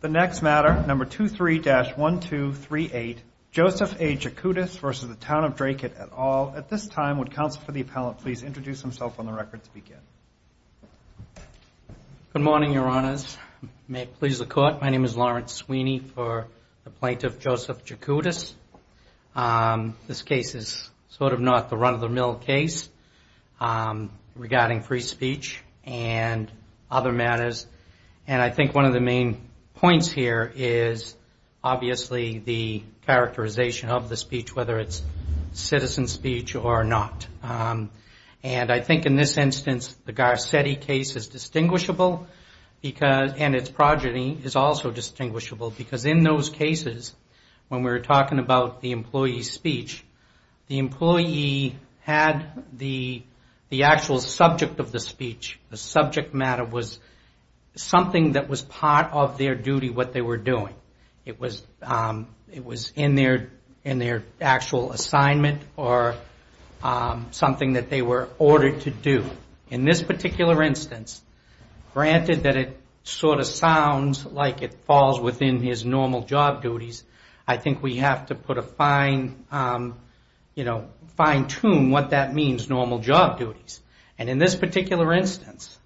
The next matter, number 23-1238, Joseph A. Jakutis versus the Town of Dracut et al. At this time, would counsel for the appellant please introduce himself on the record to begin? Good morning, Your Honors. May it please the Court. My name is Lawrence Sweeney for the plaintiff, Joseph Jakutis. This case is sort of not the run-of-the-mill case regarding free speech and other matters, and I think one of the main points here is obviously the characterization of the speech, whether it's citizen speech or not. And I think in this instance the Garcetti case is distinguishable and its progeny is also distinguishable because in those cases, when we were talking about the employee's speech, the employee had the actual subject of the speech. The subject matter was something that was part of their duty, what they were doing. It was in their actual assignment or something that they were ordered to do. In this particular instance, granted that it sort of sounds like it falls within his normal job duties, I think we have to fine-tune what that means, normal job duties. And in this particular instance,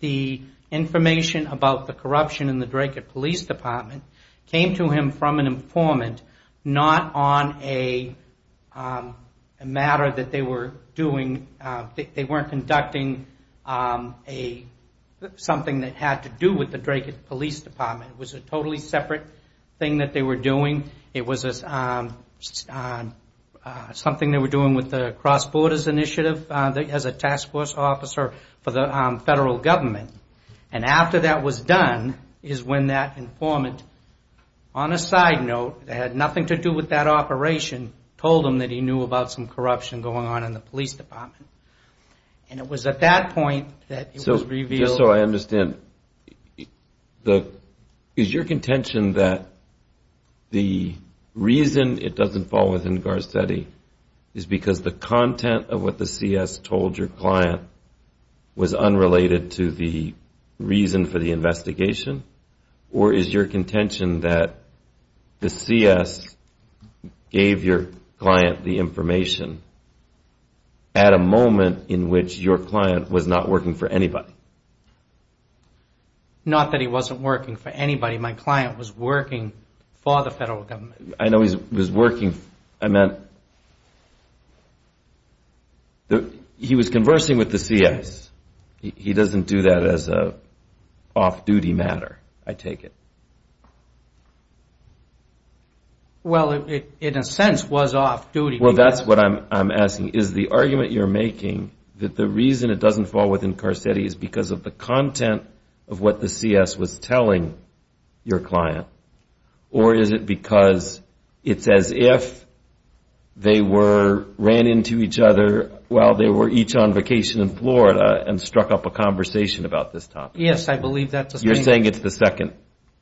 the information about the corruption in the Dracut Police Department came to him from an informant, not on a matter that they were doing. They weren't conducting something that had to do with the Dracut Police Department. It was a totally separate thing that they were doing. It was something they were doing with the Cross Borders Initiative as a task force officer for the federal government. And after that was done is when that informant, on a side note, that had nothing to do with that operation, told him that he knew about some corruption going on in the police department. And it was at that point that it was revealed. Just so I understand, is your contention that the reason it doesn't fall within Garcetti is because the content of what the CS told your client was unrelated to the reason for the investigation? Or is your contention that the CS gave your client the information at a moment in which your client was not working for anybody? Not that he wasn't working for anybody. My client was working for the federal government. I know he was working. He was conversing with the CS. He doesn't do that as an off-duty matter, I take it. Well, it in a sense was off-duty. Well, that's what I'm asking. Is the argument you're making that the reason it doesn't fall within Garcetti is because of the content of what the CS was telling your client? Or is it because it's as if they ran into each other while they were each on vacation in Florida and struck up a conversation about this topic? Yes, I believe that's the statement.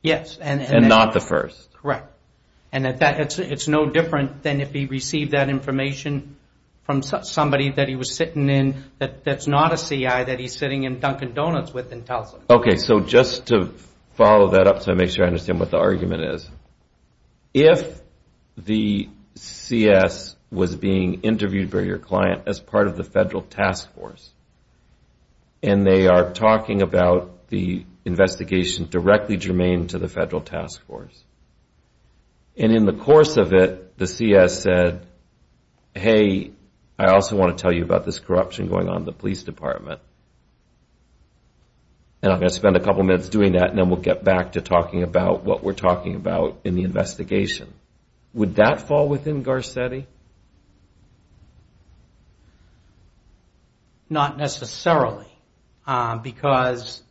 Yes. And not the first. Correct. And it's no different than if he received that information from somebody that he was sitting in that's not a CI that he's sitting in Dunkin' Donuts with and tells him. Okay, so just to follow that up so I make sure I understand what the argument is, if the CS was being interviewed by your client as part of the federal task force and they are talking about the investigation directly germane to the federal task force and in the course of it the CS said, hey, I also want to tell you about this corruption going on in the police department and I'm going to spend a couple minutes doing that and then we'll get back to talking about what we're talking about in the investigation, would that fall within Garcetti? Not necessarily because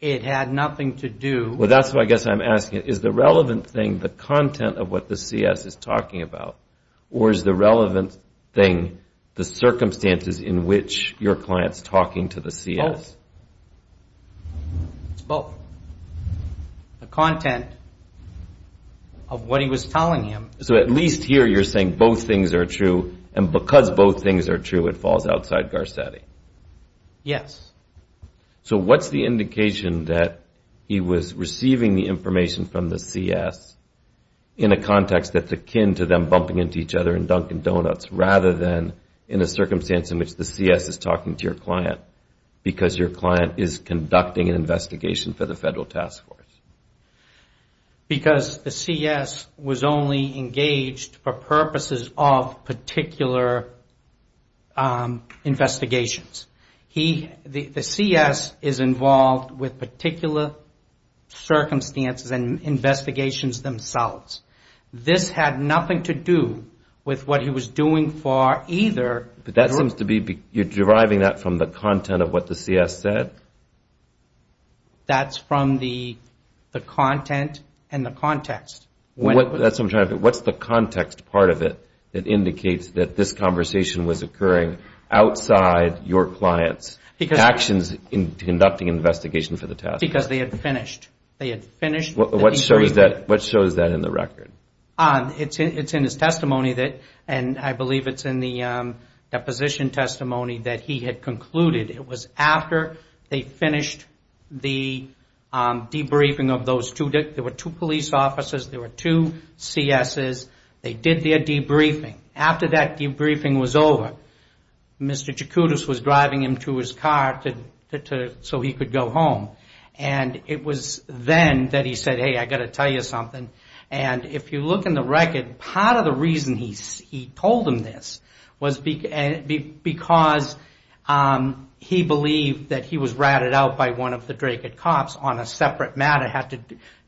it had nothing to do. Well, that's what I guess I'm asking. Is the relevant thing the content of what the CS is talking about or is the relevant thing the circumstances in which your client's talking to the CS? Both. It's both. The content of what he was telling him. So at least here you're saying both things are true and because both things are true it falls outside Garcetti? Yes. So what's the indication that he was receiving the information from the CS in a context that's akin to them bumping into each other in Dunkin' Donuts rather than in a circumstance in which the CS is talking to your client because your client is conducting an investigation for the federal task force? Because the CS was only engaged for purposes of particular investigations. The CS is involved with particular circumstances and investigations themselves. This had nothing to do with what he was doing for either. You're deriving that from the content of what the CS said? That's from the content and the context. What's the context part of it that indicates that this conversation was occurring outside your client's actions in conducting an investigation for the task force? Because they had finished. What shows that in the record? It's in his testimony and I believe it's in the deposition testimony that he had concluded. It was after they finished the debriefing of those two. There were two police officers. There were two CSs. They did their debriefing. After that debriefing was over, Mr. Jakoudis was driving him to his car so he could go home. It was then that he said, hey, I've got to tell you something. If you look in the record, part of the reason he told him this was because he believed that he was ratted out by one of the Dracut cops on a separate matter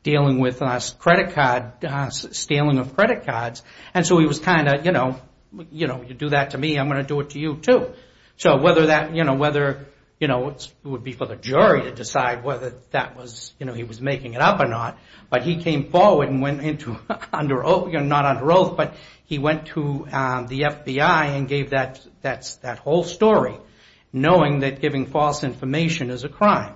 dealing with stealing of credit cards. He was kind of, you know, you do that to me, I'm going to do it to you too. Whether it would be for the jury to decide whether he was making it up or not, but he came forward and went into, not under oath, but he went to the FBI and gave that whole story knowing that giving false information is a crime.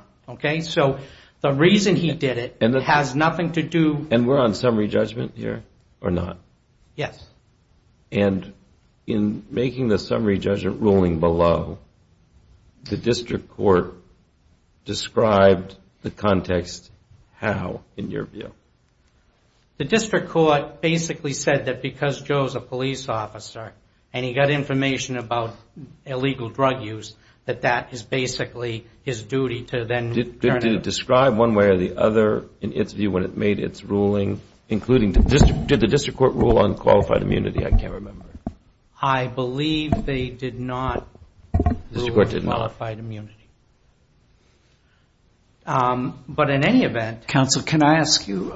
So the reason he did it has nothing to do. And we're on summary judgment here or not? Yes. And in making the summary judgment ruling below, the district court described the context how in your view? The district court basically said that because Joe is a police officer and he got information about illegal drug use, that that is basically his duty to then turn it. Did it describe one way or the other in its view when it made its ruling, including did the district court rule on qualified immunity? I can't remember. I believe they did not rule on qualified immunity. But in any event. Counsel, can I ask you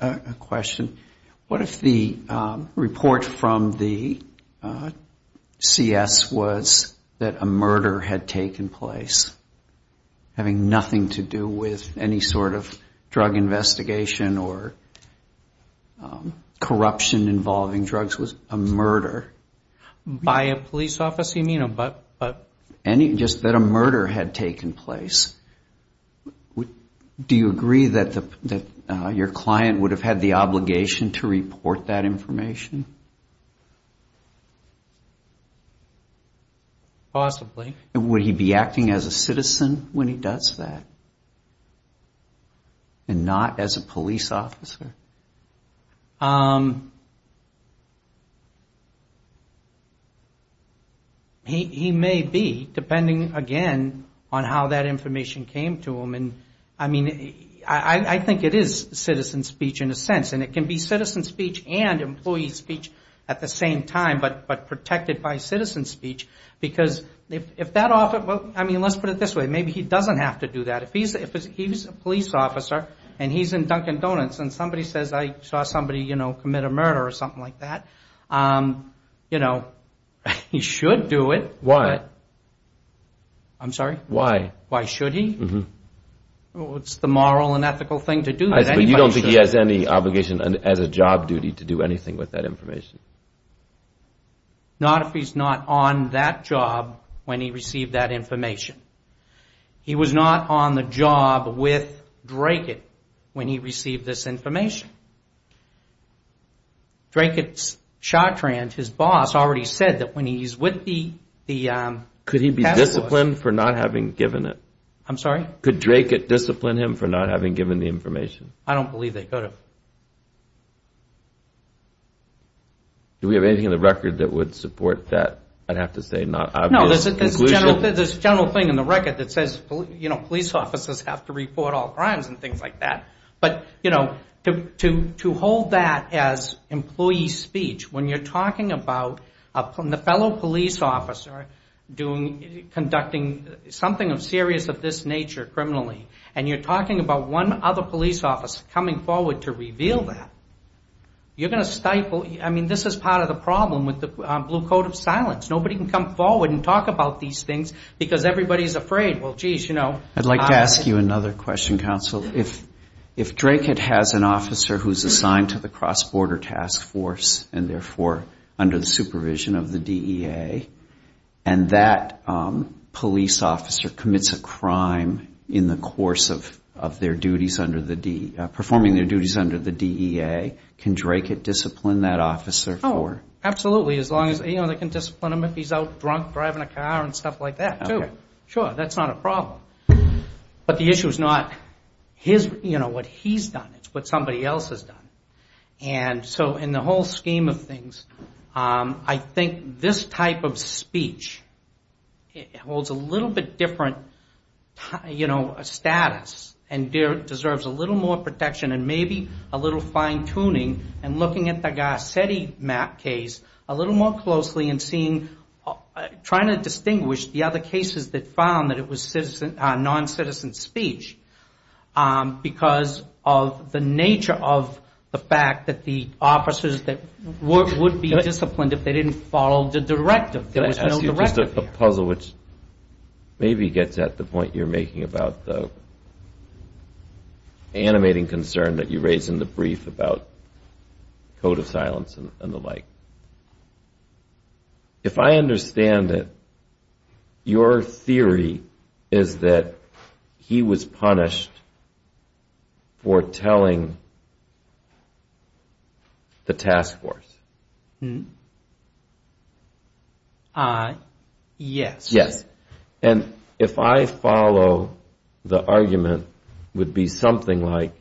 a question? What if the report from the CS was that a murder had taken place, having nothing to do with any sort of drug investigation or corruption involving drugs was a murder? By a police officer, you mean? Just that a murder had taken place. Do you agree that your client would have had the obligation to report that information? Possibly. Would he be acting as a citizen when he does that and not as a police officer? He may be, depending again on how that information came to him. And I mean, I think it is citizen speech in a sense. And it can be citizen speech and employee speech at the same time, but protected by citizen speech. Because if that officer, I mean, let's put it this way. Maybe he doesn't have to do that. If he's a police officer and he's in Dunkin' Donuts and somebody says, I saw somebody commit a murder or something like that, he should do it. Why? I'm sorry? Why? Why should he? It's the moral and ethical thing to do. to do anything with that information? Not if he's not on that job when he received that information. He was not on the job with Dracut when he received this information. Dracut's cha-tran, his boss, already said that when he's with the task force... Could he be disciplined for not having given it? I'm sorry? Could Dracut discipline him for not having given the information? I don't believe they could have. Do we have anything in the record that would support that? I'd have to say not obvious conclusion. No, there's a general thing in the record that says police officers have to report all crimes and things like that. But to hold that as employee speech, when you're talking about the fellow police officer conducting something serious of this nature criminally, and you're talking about one other police officer coming forward to reveal that, you're going to stifle... I mean, this is part of the problem with the blue coat of silence. Nobody can come forward and talk about these things because everybody's afraid. Well, geez, you know... I'd like to ask you another question, counsel. If Dracut has an officer who's assigned to the cross-border task force and therefore under the supervision of the DEA, and that police officer commits a crime in the course of their duties under the DEA, can Dracut discipline that officer for it? Absolutely. They can discipline him if he's out drunk driving a car and stuff like that too. Sure, that's not a problem. But the issue is not what he's done. It's what somebody else has done. And so in the whole scheme of things, I think this type of speech holds a little bit different status and deserves a little more protection and maybe a little fine-tuning and looking at the Garcetti case a little more closely and trying to distinguish the other cases that found that it was non-citizen speech because of the nature of the fact that the officers would be disciplined if they didn't follow the directive. There was no directive there. I have a puzzle which maybe gets at the point you're making about the animating concern that you raised in the brief about code of silence and the like. If I understand it, your theory is that he was punished for telling the task force. Yes. And if I follow, the argument would be something like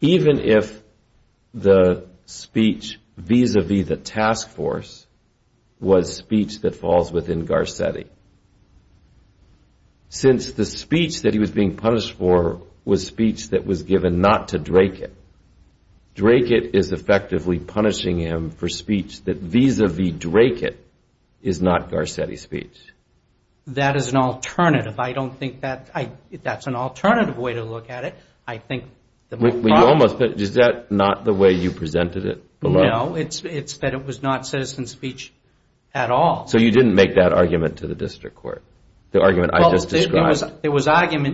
even if the speech vis-a-vis the task force was speech that falls within Garcetti, since the speech that he was being punished for was speech that was given not to Drakett, Drakett is effectively punishing him for speech that vis-a-vis Drakett is not Garcetti's speech. That is an alternative. I don't think that's an alternative way to look at it. Is that not the way you presented it? No, it's that it was not citizen speech at all. So you didn't make that argument to the district court, the argument I just described?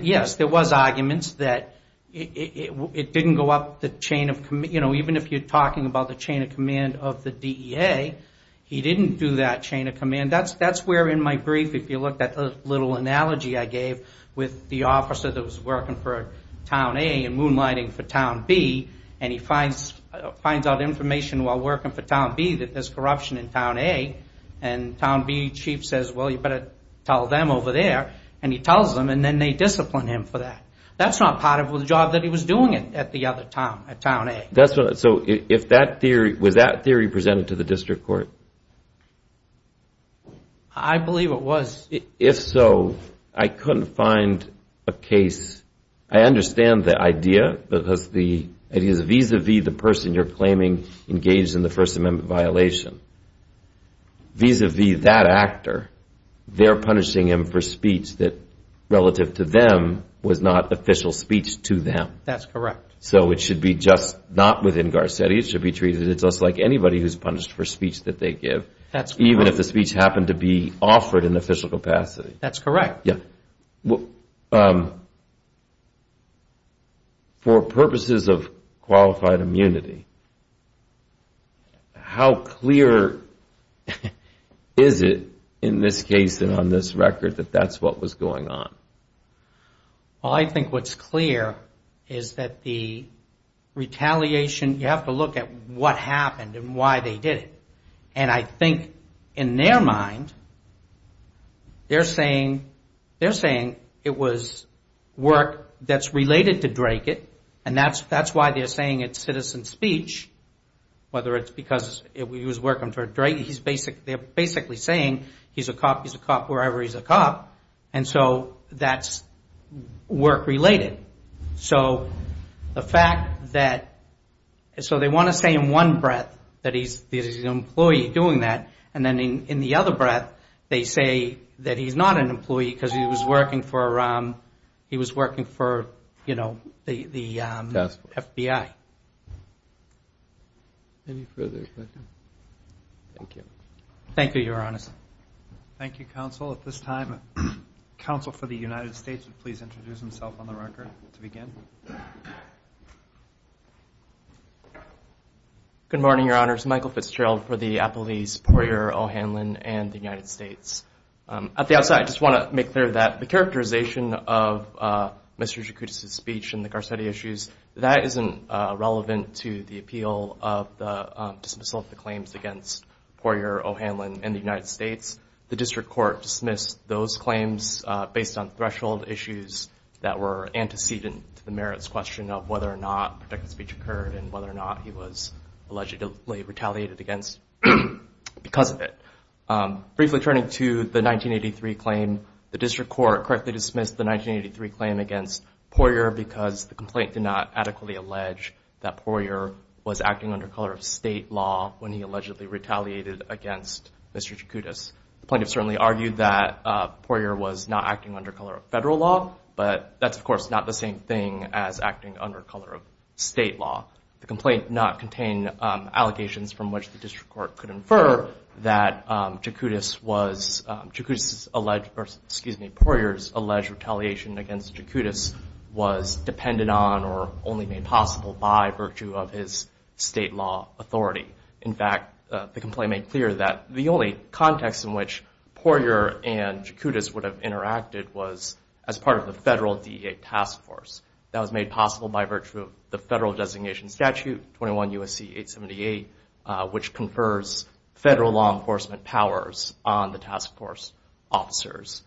Yes, there was arguments that it didn't go up the chain of command. Even if you're talking about the chain of command of the DEA, he didn't do that chain of command. That's where in my brief, if you look at the little analogy I gave with the officer that was working for Town A and moonlighting for Town B, and he finds out information while working for Town B that there's corruption in Town A, and Town B chief says, well, you better tell them over there, and he tells them and then they discipline him for that. That's not part of the job that he was doing at the other town, at Town A. So was that theory presented to the district court? I believe it was. If so, I couldn't find a case. I understand the idea because it is vis-à-vis the person you're claiming engaged in the First Amendment violation. Vis-à-vis that actor, they're punishing him for speech that, relative to them, was not official speech to them. That's correct. So it should be just not within Garcetti. It should be treated just like anybody who's punished for speech that they give, even if the speech happened to be offered in official capacity. That's correct. For purposes of qualified immunity, how clear is it, in this case and on this record, that that's what was going on? I think what's clear is that the retaliation, you have to look at what happened and why they did it, and I think, in their mind, they're saying it was work that's related to Drake. And that's why they're saying it's citizen speech, whether it's because he was working for Drake. They're basically saying he's a cop, he's a cop wherever he's a cop, and so that's work-related. So the fact that they want to say in one breath that he's an employee doing that, and then in the other breath they say that he's not an employee because he was working for the FBI. Any further questions? Thank you. Thank you, Your Honor. Thank you, counsel. At this time, counsel for the United States would please introduce himself on the record to begin. Good morning, Your Honors. Michael Fitzgerald for the appellees Poirier, O'Hanlon, and the United States. At the outset, I just want to make clear that the characterization of Mr. Jacuzzi's speech and the Garcetti issues, that isn't relevant to the appeal of the dismissal of the claims against Poirier, O'Hanlon, and the United States. The district court dismissed those claims based on threshold issues that were antecedent to the merits question of whether or not protected speech occurred and whether or not he was allegedly retaliated against because of it. Briefly turning to the 1983 claim, the district court correctly dismissed the 1983 claim against Poirier because the complaint did not adequately allege that Poirier was acting under color of state law when he allegedly retaliated against Mr. Jacuzzi. The plaintiff certainly argued that Poirier was not acting under color of federal law, but that's, of course, not the same thing as acting under color of state law. The complaint did not contain allegations from which the district court could infer that Jacuzzi's alleged or, excuse me, Poirier's alleged retaliation against Jacuzzi was dependent on or only made possible by virtue of his state law authority. In fact, the complaint made clear that the only context in which Poirier and Jacuzzi would have interacted was as part of the federal DEA task force. That was made possible by virtue of the federal designation statute, 21 U.S.C. 878, which confers federal law enforcement powers on the task force officers.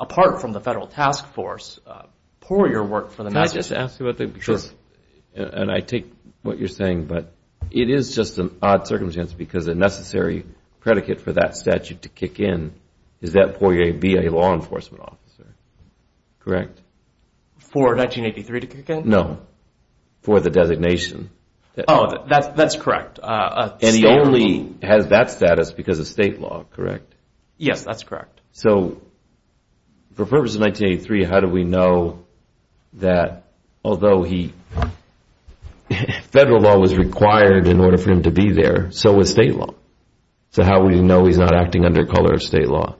Apart from the federal task force, Poirier worked for the Massachusetts. Can I just ask you a thing? Sure. And I take what you're saying, but it is just an odd circumstance because a necessary predicate for that statute to kick in is that Poirier be a law enforcement officer, correct? For 1983 to kick in? No, for the designation. Oh, that's correct. And he only has that status because of state law, correct? Yes, that's correct. So for purposes of 1983, how do we know that although federal law was required in order for him to be there, so was state law? So how do we know he's not acting under color of state law?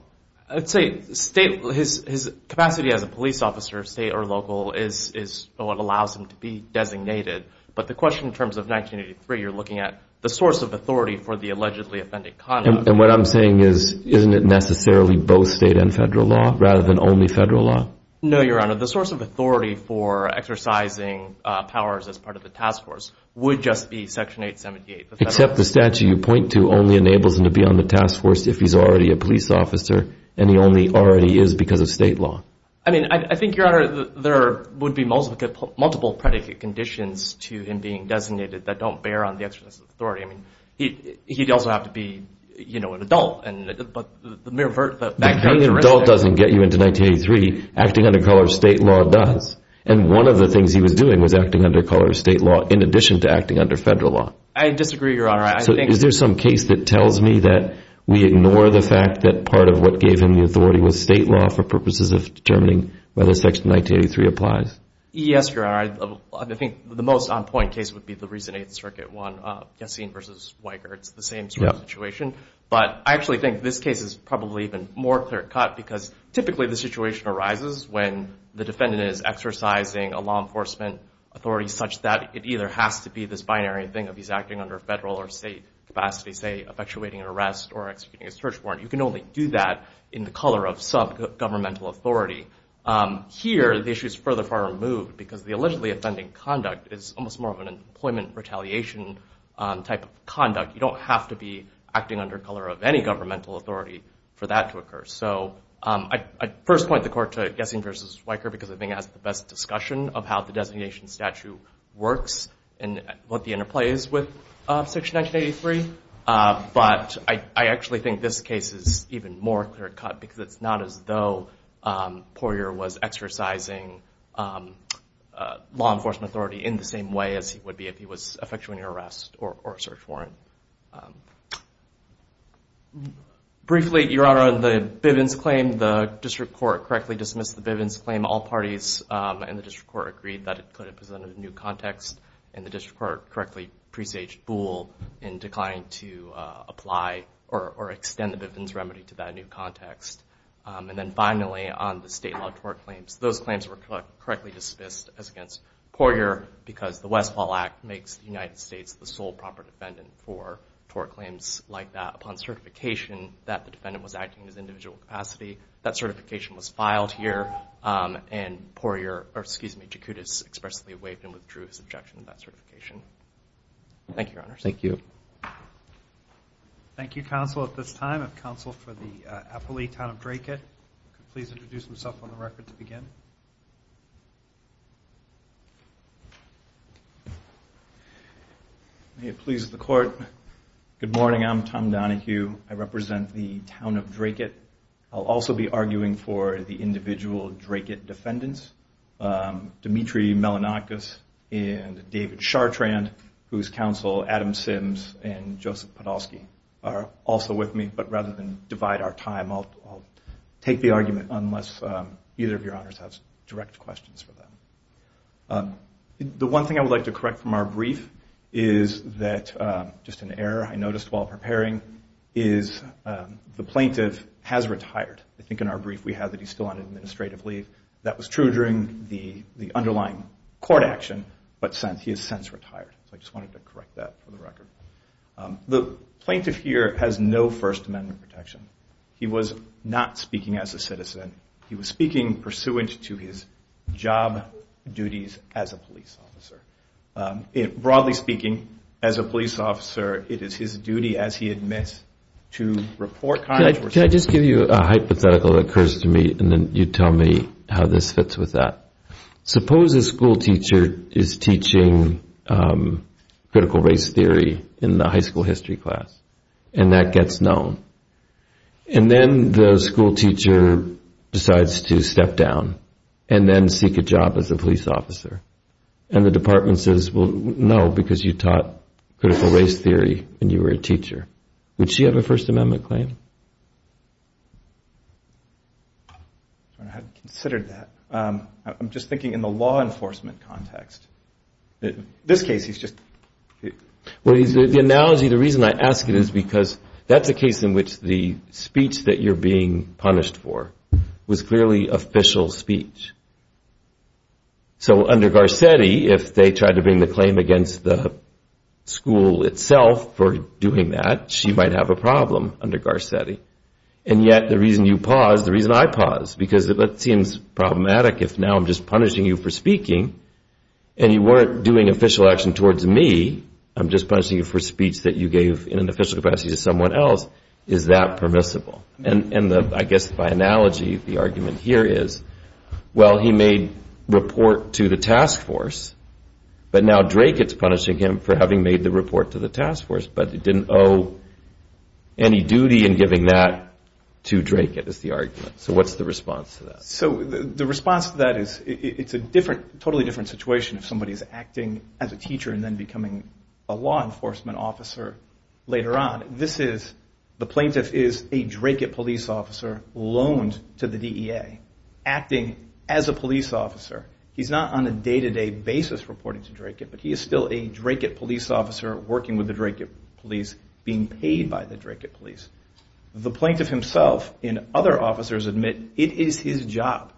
I'd say his capacity as a police officer, state or local, is what allows him to be designated. But the question in terms of 1983, you're looking at the source of authority for the allegedly offended conduct. And what I'm saying is, isn't it necessarily both state and federal law rather than only federal law? No, Your Honor. The source of authority for exercising powers as part of the task force would just be Section 878. Except the statute you point to only enables him to be on the task force if he's already a police officer and he only already is because of state law. I mean, I think, Your Honor, there would be multiple predicate conditions to him being designated that don't bear on the exercise of authority. I mean, he'd also have to be, you know, an adult. If being an adult doesn't get you into 1983, acting under color of state law does. And one of the things he was doing was acting under color of state law in addition to acting under federal law. I disagree, Your Honor. Is there some case that tells me that we ignore the fact that part of what gave him the authority was state law for purposes of determining whether Section 1983 applies? Yes, Your Honor. I think the most on-point case would be the recent Eighth Circuit one, Yassine v. Weicker. It's the same sort of situation. But I actually think this case is probably even more clear-cut because typically the situation arises when the defendant is exercising a law enforcement authority such that it either has to be this binary thing of he's acting under federal or state capacity, say, effectuating an arrest or executing a search warrant. You can only do that in the color of subgovernmental authority. Here, the issue is further far removed because the allegedly offending conduct is almost more of an employment retaliation type of conduct. You don't have to be acting under color of any governmental authority for that to occur. So I first point the court to Yassine v. Weicker because I think it has the best discussion of how the designation statute works and what the interplay is with Section 1983. But I actually think this case is even more clear-cut because it's not as though Poirier was exercising law enforcement authority in the same way as he would be if he was effectuating an arrest or a search warrant. Briefly, Your Honor, on the Bivens claim, the district court correctly dismissed the Bivens claim. All parties in the district court agreed that it could have presented a new context, and the district court correctly presaged Boole in declining to apply or extend the Bivens remedy to that new context. And then finally, on the state law tort claims, those claims were correctly dismissed as against Poirier because the Westphal Act makes the United States the sole proper defendant for tort claims like that. Upon certification that the defendant was acting as individual capacity, that certification was filed here, and Jakutis expressly waived and withdrew his objection to that certification. Thank you, Your Honor. Thank you. Thank you, counsel, at this time. If counsel for the appellee, Town of Dracut, could please introduce himself on the record to begin. May it please the court. Good morning. I'm Tom Donohue. I represent the Town of Dracut. I'll also be arguing for the individual Dracut defendants, Dimitri Melanakis and David Chartrand, whose counsel Adam Sims and Joseph Podolsky are also with me. But rather than divide our time, I'll take the argument unless either of your honors has direct questions for them. The one thing I would like to correct from our brief is that just an error I noticed while preparing, is the plaintiff has retired. I think in our brief we have that he's still on administrative leave. That was true during the underlying court action, but he has since retired. So I just wanted to correct that for the record. The plaintiff here has no First Amendment protection. He was not speaking as a citizen. He was speaking pursuant to his job duties as a police officer. Broadly speaking, as a police officer, it is his duty, as he admits, to report crimes. Can I just give you a hypothetical that occurs to me, and then you tell me how this fits with that? Suppose a schoolteacher is teaching critical race theory in the high school history class, and that gets known. And then the schoolteacher decides to step down and then seek a job as a police officer. And the department says, well, no, because you taught critical race theory and you were a teacher. Would she have a First Amendment claim? I hadn't considered that. I'm just thinking in the law enforcement context. The analogy, the reason I ask it is because that's a case in which the speech that you're being punished for was clearly official speech. So under Garcetti, if they tried to bring the claim against the school itself for doing that, she might have a problem under Garcetti. And yet the reason you paused, the reason I paused, because it seems problematic if now I'm just punishing you for speaking, and you weren't doing official action towards me, I'm just punishing you for speech that you gave in an official capacity to someone else. Is that permissible? And I guess by analogy, the argument here is, well, he made report to the task force, but now Dracut's punishing him for having made the report to the task force. But he didn't owe any duty in giving that to Dracut is the argument. So what's the response to that? So the response to that is it's a totally different situation if somebody's acting as a teacher and then becoming a law enforcement officer later on. The plaintiff is a Dracut police officer loaned to the DEA, acting as a police officer. He's not on a day-to-day basis reporting to Dracut, but he is still a Dracut police officer working with the Dracut police, being paid by the Dracut police. The plaintiff himself and other officers admit it is his job.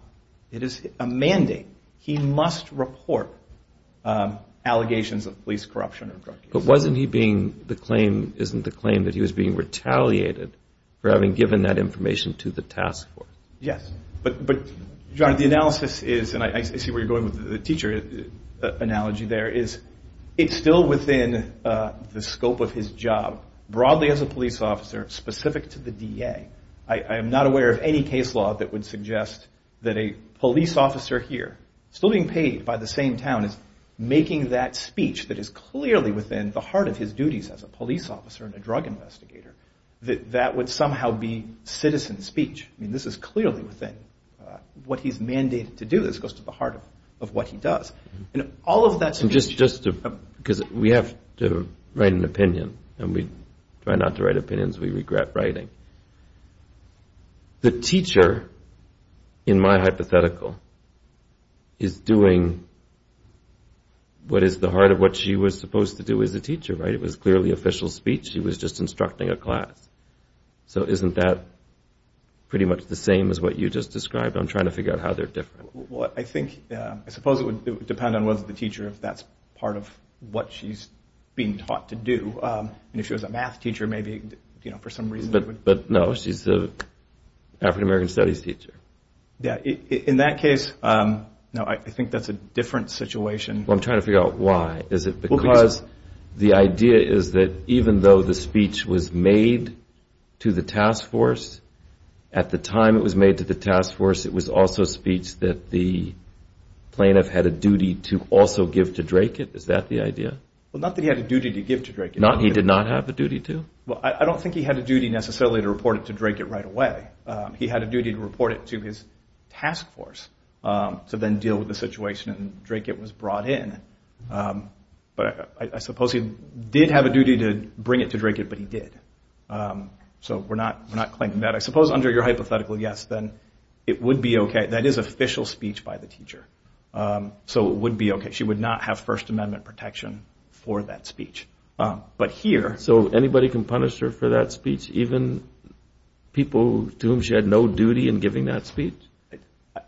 It is a mandate. He must report allegations of police corruption. But wasn't he being the claim, isn't the claim that he was being retaliated for having given that information to the task force? Yes, but John, the analysis is, and I see where you're going with the teacher analogy there, is it's still within the scope of his job, broadly as a police officer, specific to the DEA. I am not aware of any case law that would suggest that a police officer here, still being paid by the same town, is making that speech that is clearly within the heart of his duties as a police officer and a drug investigator, that that would somehow be citizen speech. I mean, this is clearly within what he's mandated to do. This goes to the heart of what he does. And all of that... We have to write an opinion, and we try not to write opinions we regret writing. The teacher, in my hypothetical, is doing what is the heart of what she was supposed to do as a teacher, right? It was clearly official speech. She was just instructing a class. So isn't that pretty much the same as what you just described? I'm trying to figure out how they're different. Well, I think, I suppose it would depend on whether the teacher, if that's part of what she's being taught to do. And if she was a math teacher, maybe for some reason... But no, she's an African-American studies teacher. In that case, no, I think that's a different situation. I'm trying to figure out why. Is it because the idea is that even though the speech was made to the task force, at the time it was made to the task force, it was also speech that was made to the police force. So you're saying that the plaintiff had a duty to also give to Dracut? Is that the idea? Well, not that he had a duty to give to Dracut. He did not have a duty to? Well, I don't think he had a duty necessarily to report it to Dracut right away. He had a duty to report it to his task force to then deal with the situation. And Dracut was brought in. But I suppose he did have a duty to bring it to Dracut, but he did. So we're not claiming that. I suppose under your hypothetical yes, then it would be okay. That is official speech by the teacher. So it would be okay. She would not have First Amendment protection for that speech. So anybody can punish her for that speech? Even people to whom she had no duty in giving that speech?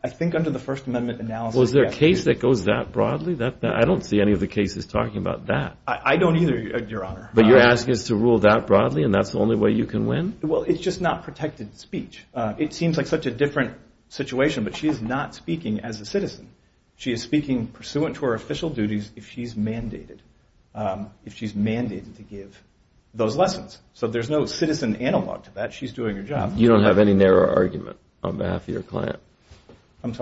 I think under the First Amendment analysis... Is there a case that goes that broadly? I don't see any of the cases talking about that. I don't either, Your Honor. But you're asking us to rule that broadly and that's the only way you can win? Well, it's just not protected speech. It seems like such a different situation, but she is not speaking as a citizen. She is speaking pursuant to her official duties if she's mandated to give those lessons. So there's no citizen analog to that. She's doing her job. You don't have any narrower argument on behalf of your client? Well,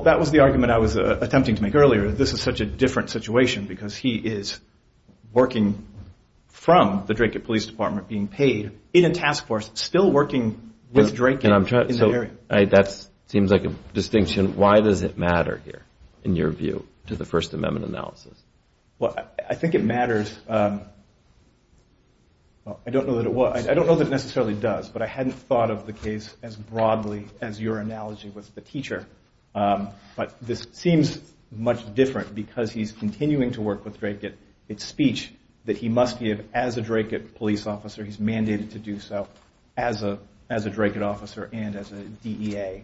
that was the argument I was attempting to make earlier. This is such a different situation because he is working from the Dracut Police Department, being paid in a task force, still working with Dracut in that area. That seems like a distinction. Why does it matter here, in your view, to the First Amendment analysis? Well, I think it matters. I don't know that it necessarily does, but I hadn't thought of the case as broadly as your analogy with the teacher. But this seems much different because he's continuing to work with Dracut. It's speech that he must give as a Dracut police officer. He's mandated to do so as a Dracut officer and as a DEA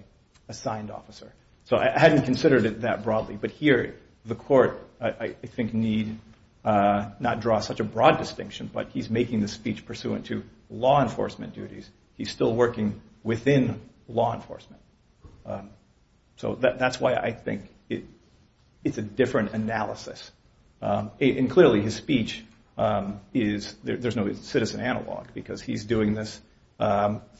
assigned officer. So I hadn't considered it that broadly, but here the court, I think, need not draw such a broad distinction, but he's making the speech pursuant to law enforcement duties. He's still working within law enforcement. So that's why I think it's a different analysis. And clearly, his speech is, there's no citizen analog, because he's doing this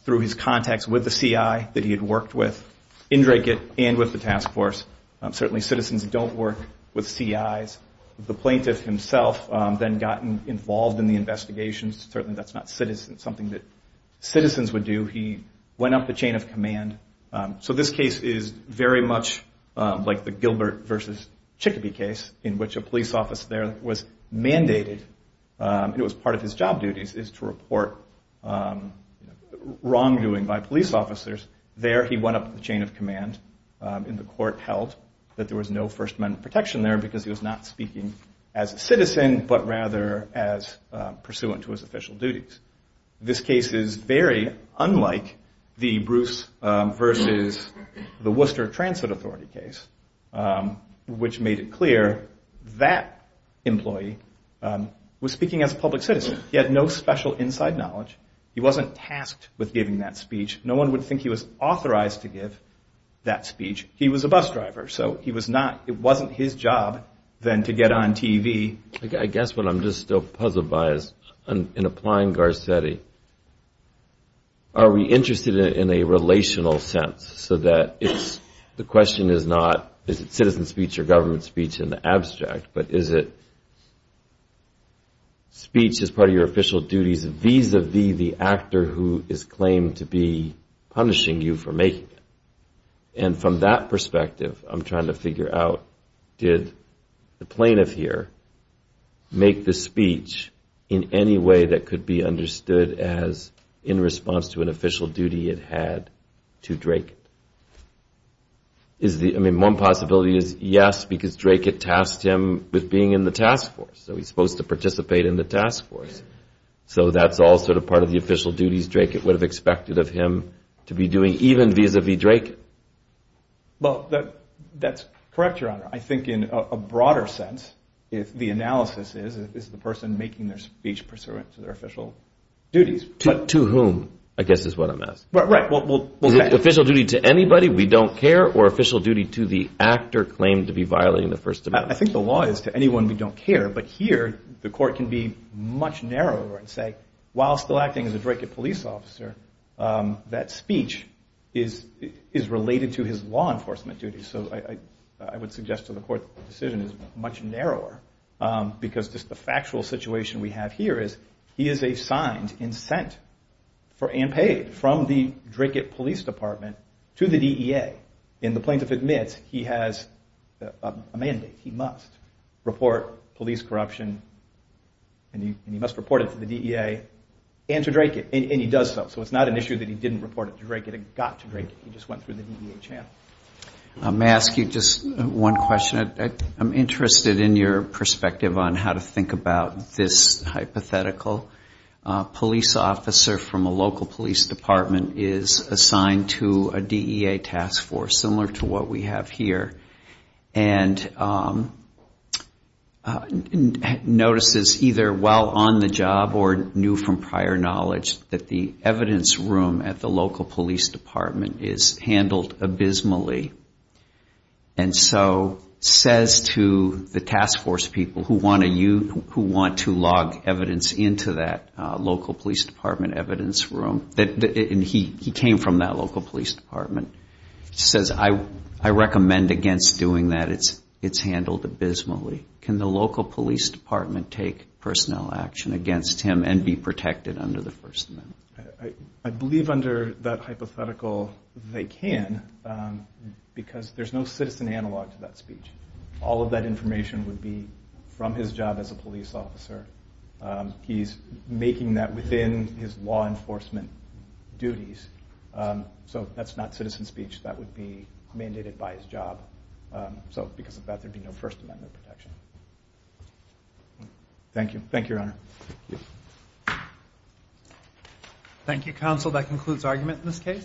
through his contacts with the CI that he had worked with in Dracut and with the task force. Certainly citizens don't work with CIs. The plaintiff himself then got involved in the investigations. Certainly that's not something that citizens would do. He went up the chain of command. So this case is very much like the Gilbert versus Chickabee case in which a police officer there was mandated, and it was part of his job duties, is to report wrongdoing by police officers. There he went up the chain of command, and the court held that there was no First Amendment protection there because he was not speaking as a citizen, but rather as pursuant to his official duties. This case is very unlike the Bruce versus the Worcester Transit Authority case, which made it clear that employee was speaking as a public citizen. He had no special inside knowledge. He wasn't tasked with giving that speech. No one would think he was authorized to give that speech. He was a bus driver, so it wasn't his job then to get on TV. I guess what I'm just still puzzled by is in applying Garcetti, are we interested in a relational sense, so that the question is not is it citizen speech or government speech in the abstract, but is it speech as part of your official duties vis-a-vis the actor who is claimed to be punishing you for making it. And from that perspective, I'm trying to figure out did the plaintiff here make the speech in any way that could be understood as in response to an official duty it had to Drake. I mean, one possibility is yes, because Drake had tasked him with being in the task force, so he's supposed to participate in the task force. So that's all sort of part of the official duties Drake would have expected of him to be doing even vis-a-vis Drake. Well, that's correct, Your Honor. I think in a broader sense, the analysis is the person making their speech pursuant to their official duties. To whom, I guess is what I'm asking. Right. Well, is it official duty to anybody we don't care or official duty to the actor claimed to be violating the First Amendment? I think the law is to anyone we don't care, but here the court can be much narrower and say, while still acting as a Drake police officer, that speech is related to his law enforcement duties. So I would suggest to the court that the decision is much narrower, because just the factual situation we have here is he is a signed incent for and paid from the Drake Police Department to the DEA. And the plaintiff admits he has a mandate, he must report police corruption, and he must report it to the DEA and to Drake, and he does so. So it's not an issue that he didn't report it to Drake, it got to Drake, he just went through the DEA channel. May I ask you just one question? I'm interested in your perspective on how to think about this hypothetical police officer from a local police department is assigned to a DEA task force, similar to what we have here, and notices either while on the job or new from prior knowledge that the evidence room at the local police department is handled abysmally. And so says to the task force people who want to log evidence into that local police department evidence room, and he came from that local police department, says I recommend against doing that, it's handled abysmally. Can the local police department take personnel action against him and be protected under the First Amendment? I believe under that hypothetical they can, because there's no citizen analog to that speech. All of that information would be from his job as a police officer. He's making that within his law enforcement duties. So that's not citizen speech, that would be mandated by his job. So because of that there would be no First Amendment protection.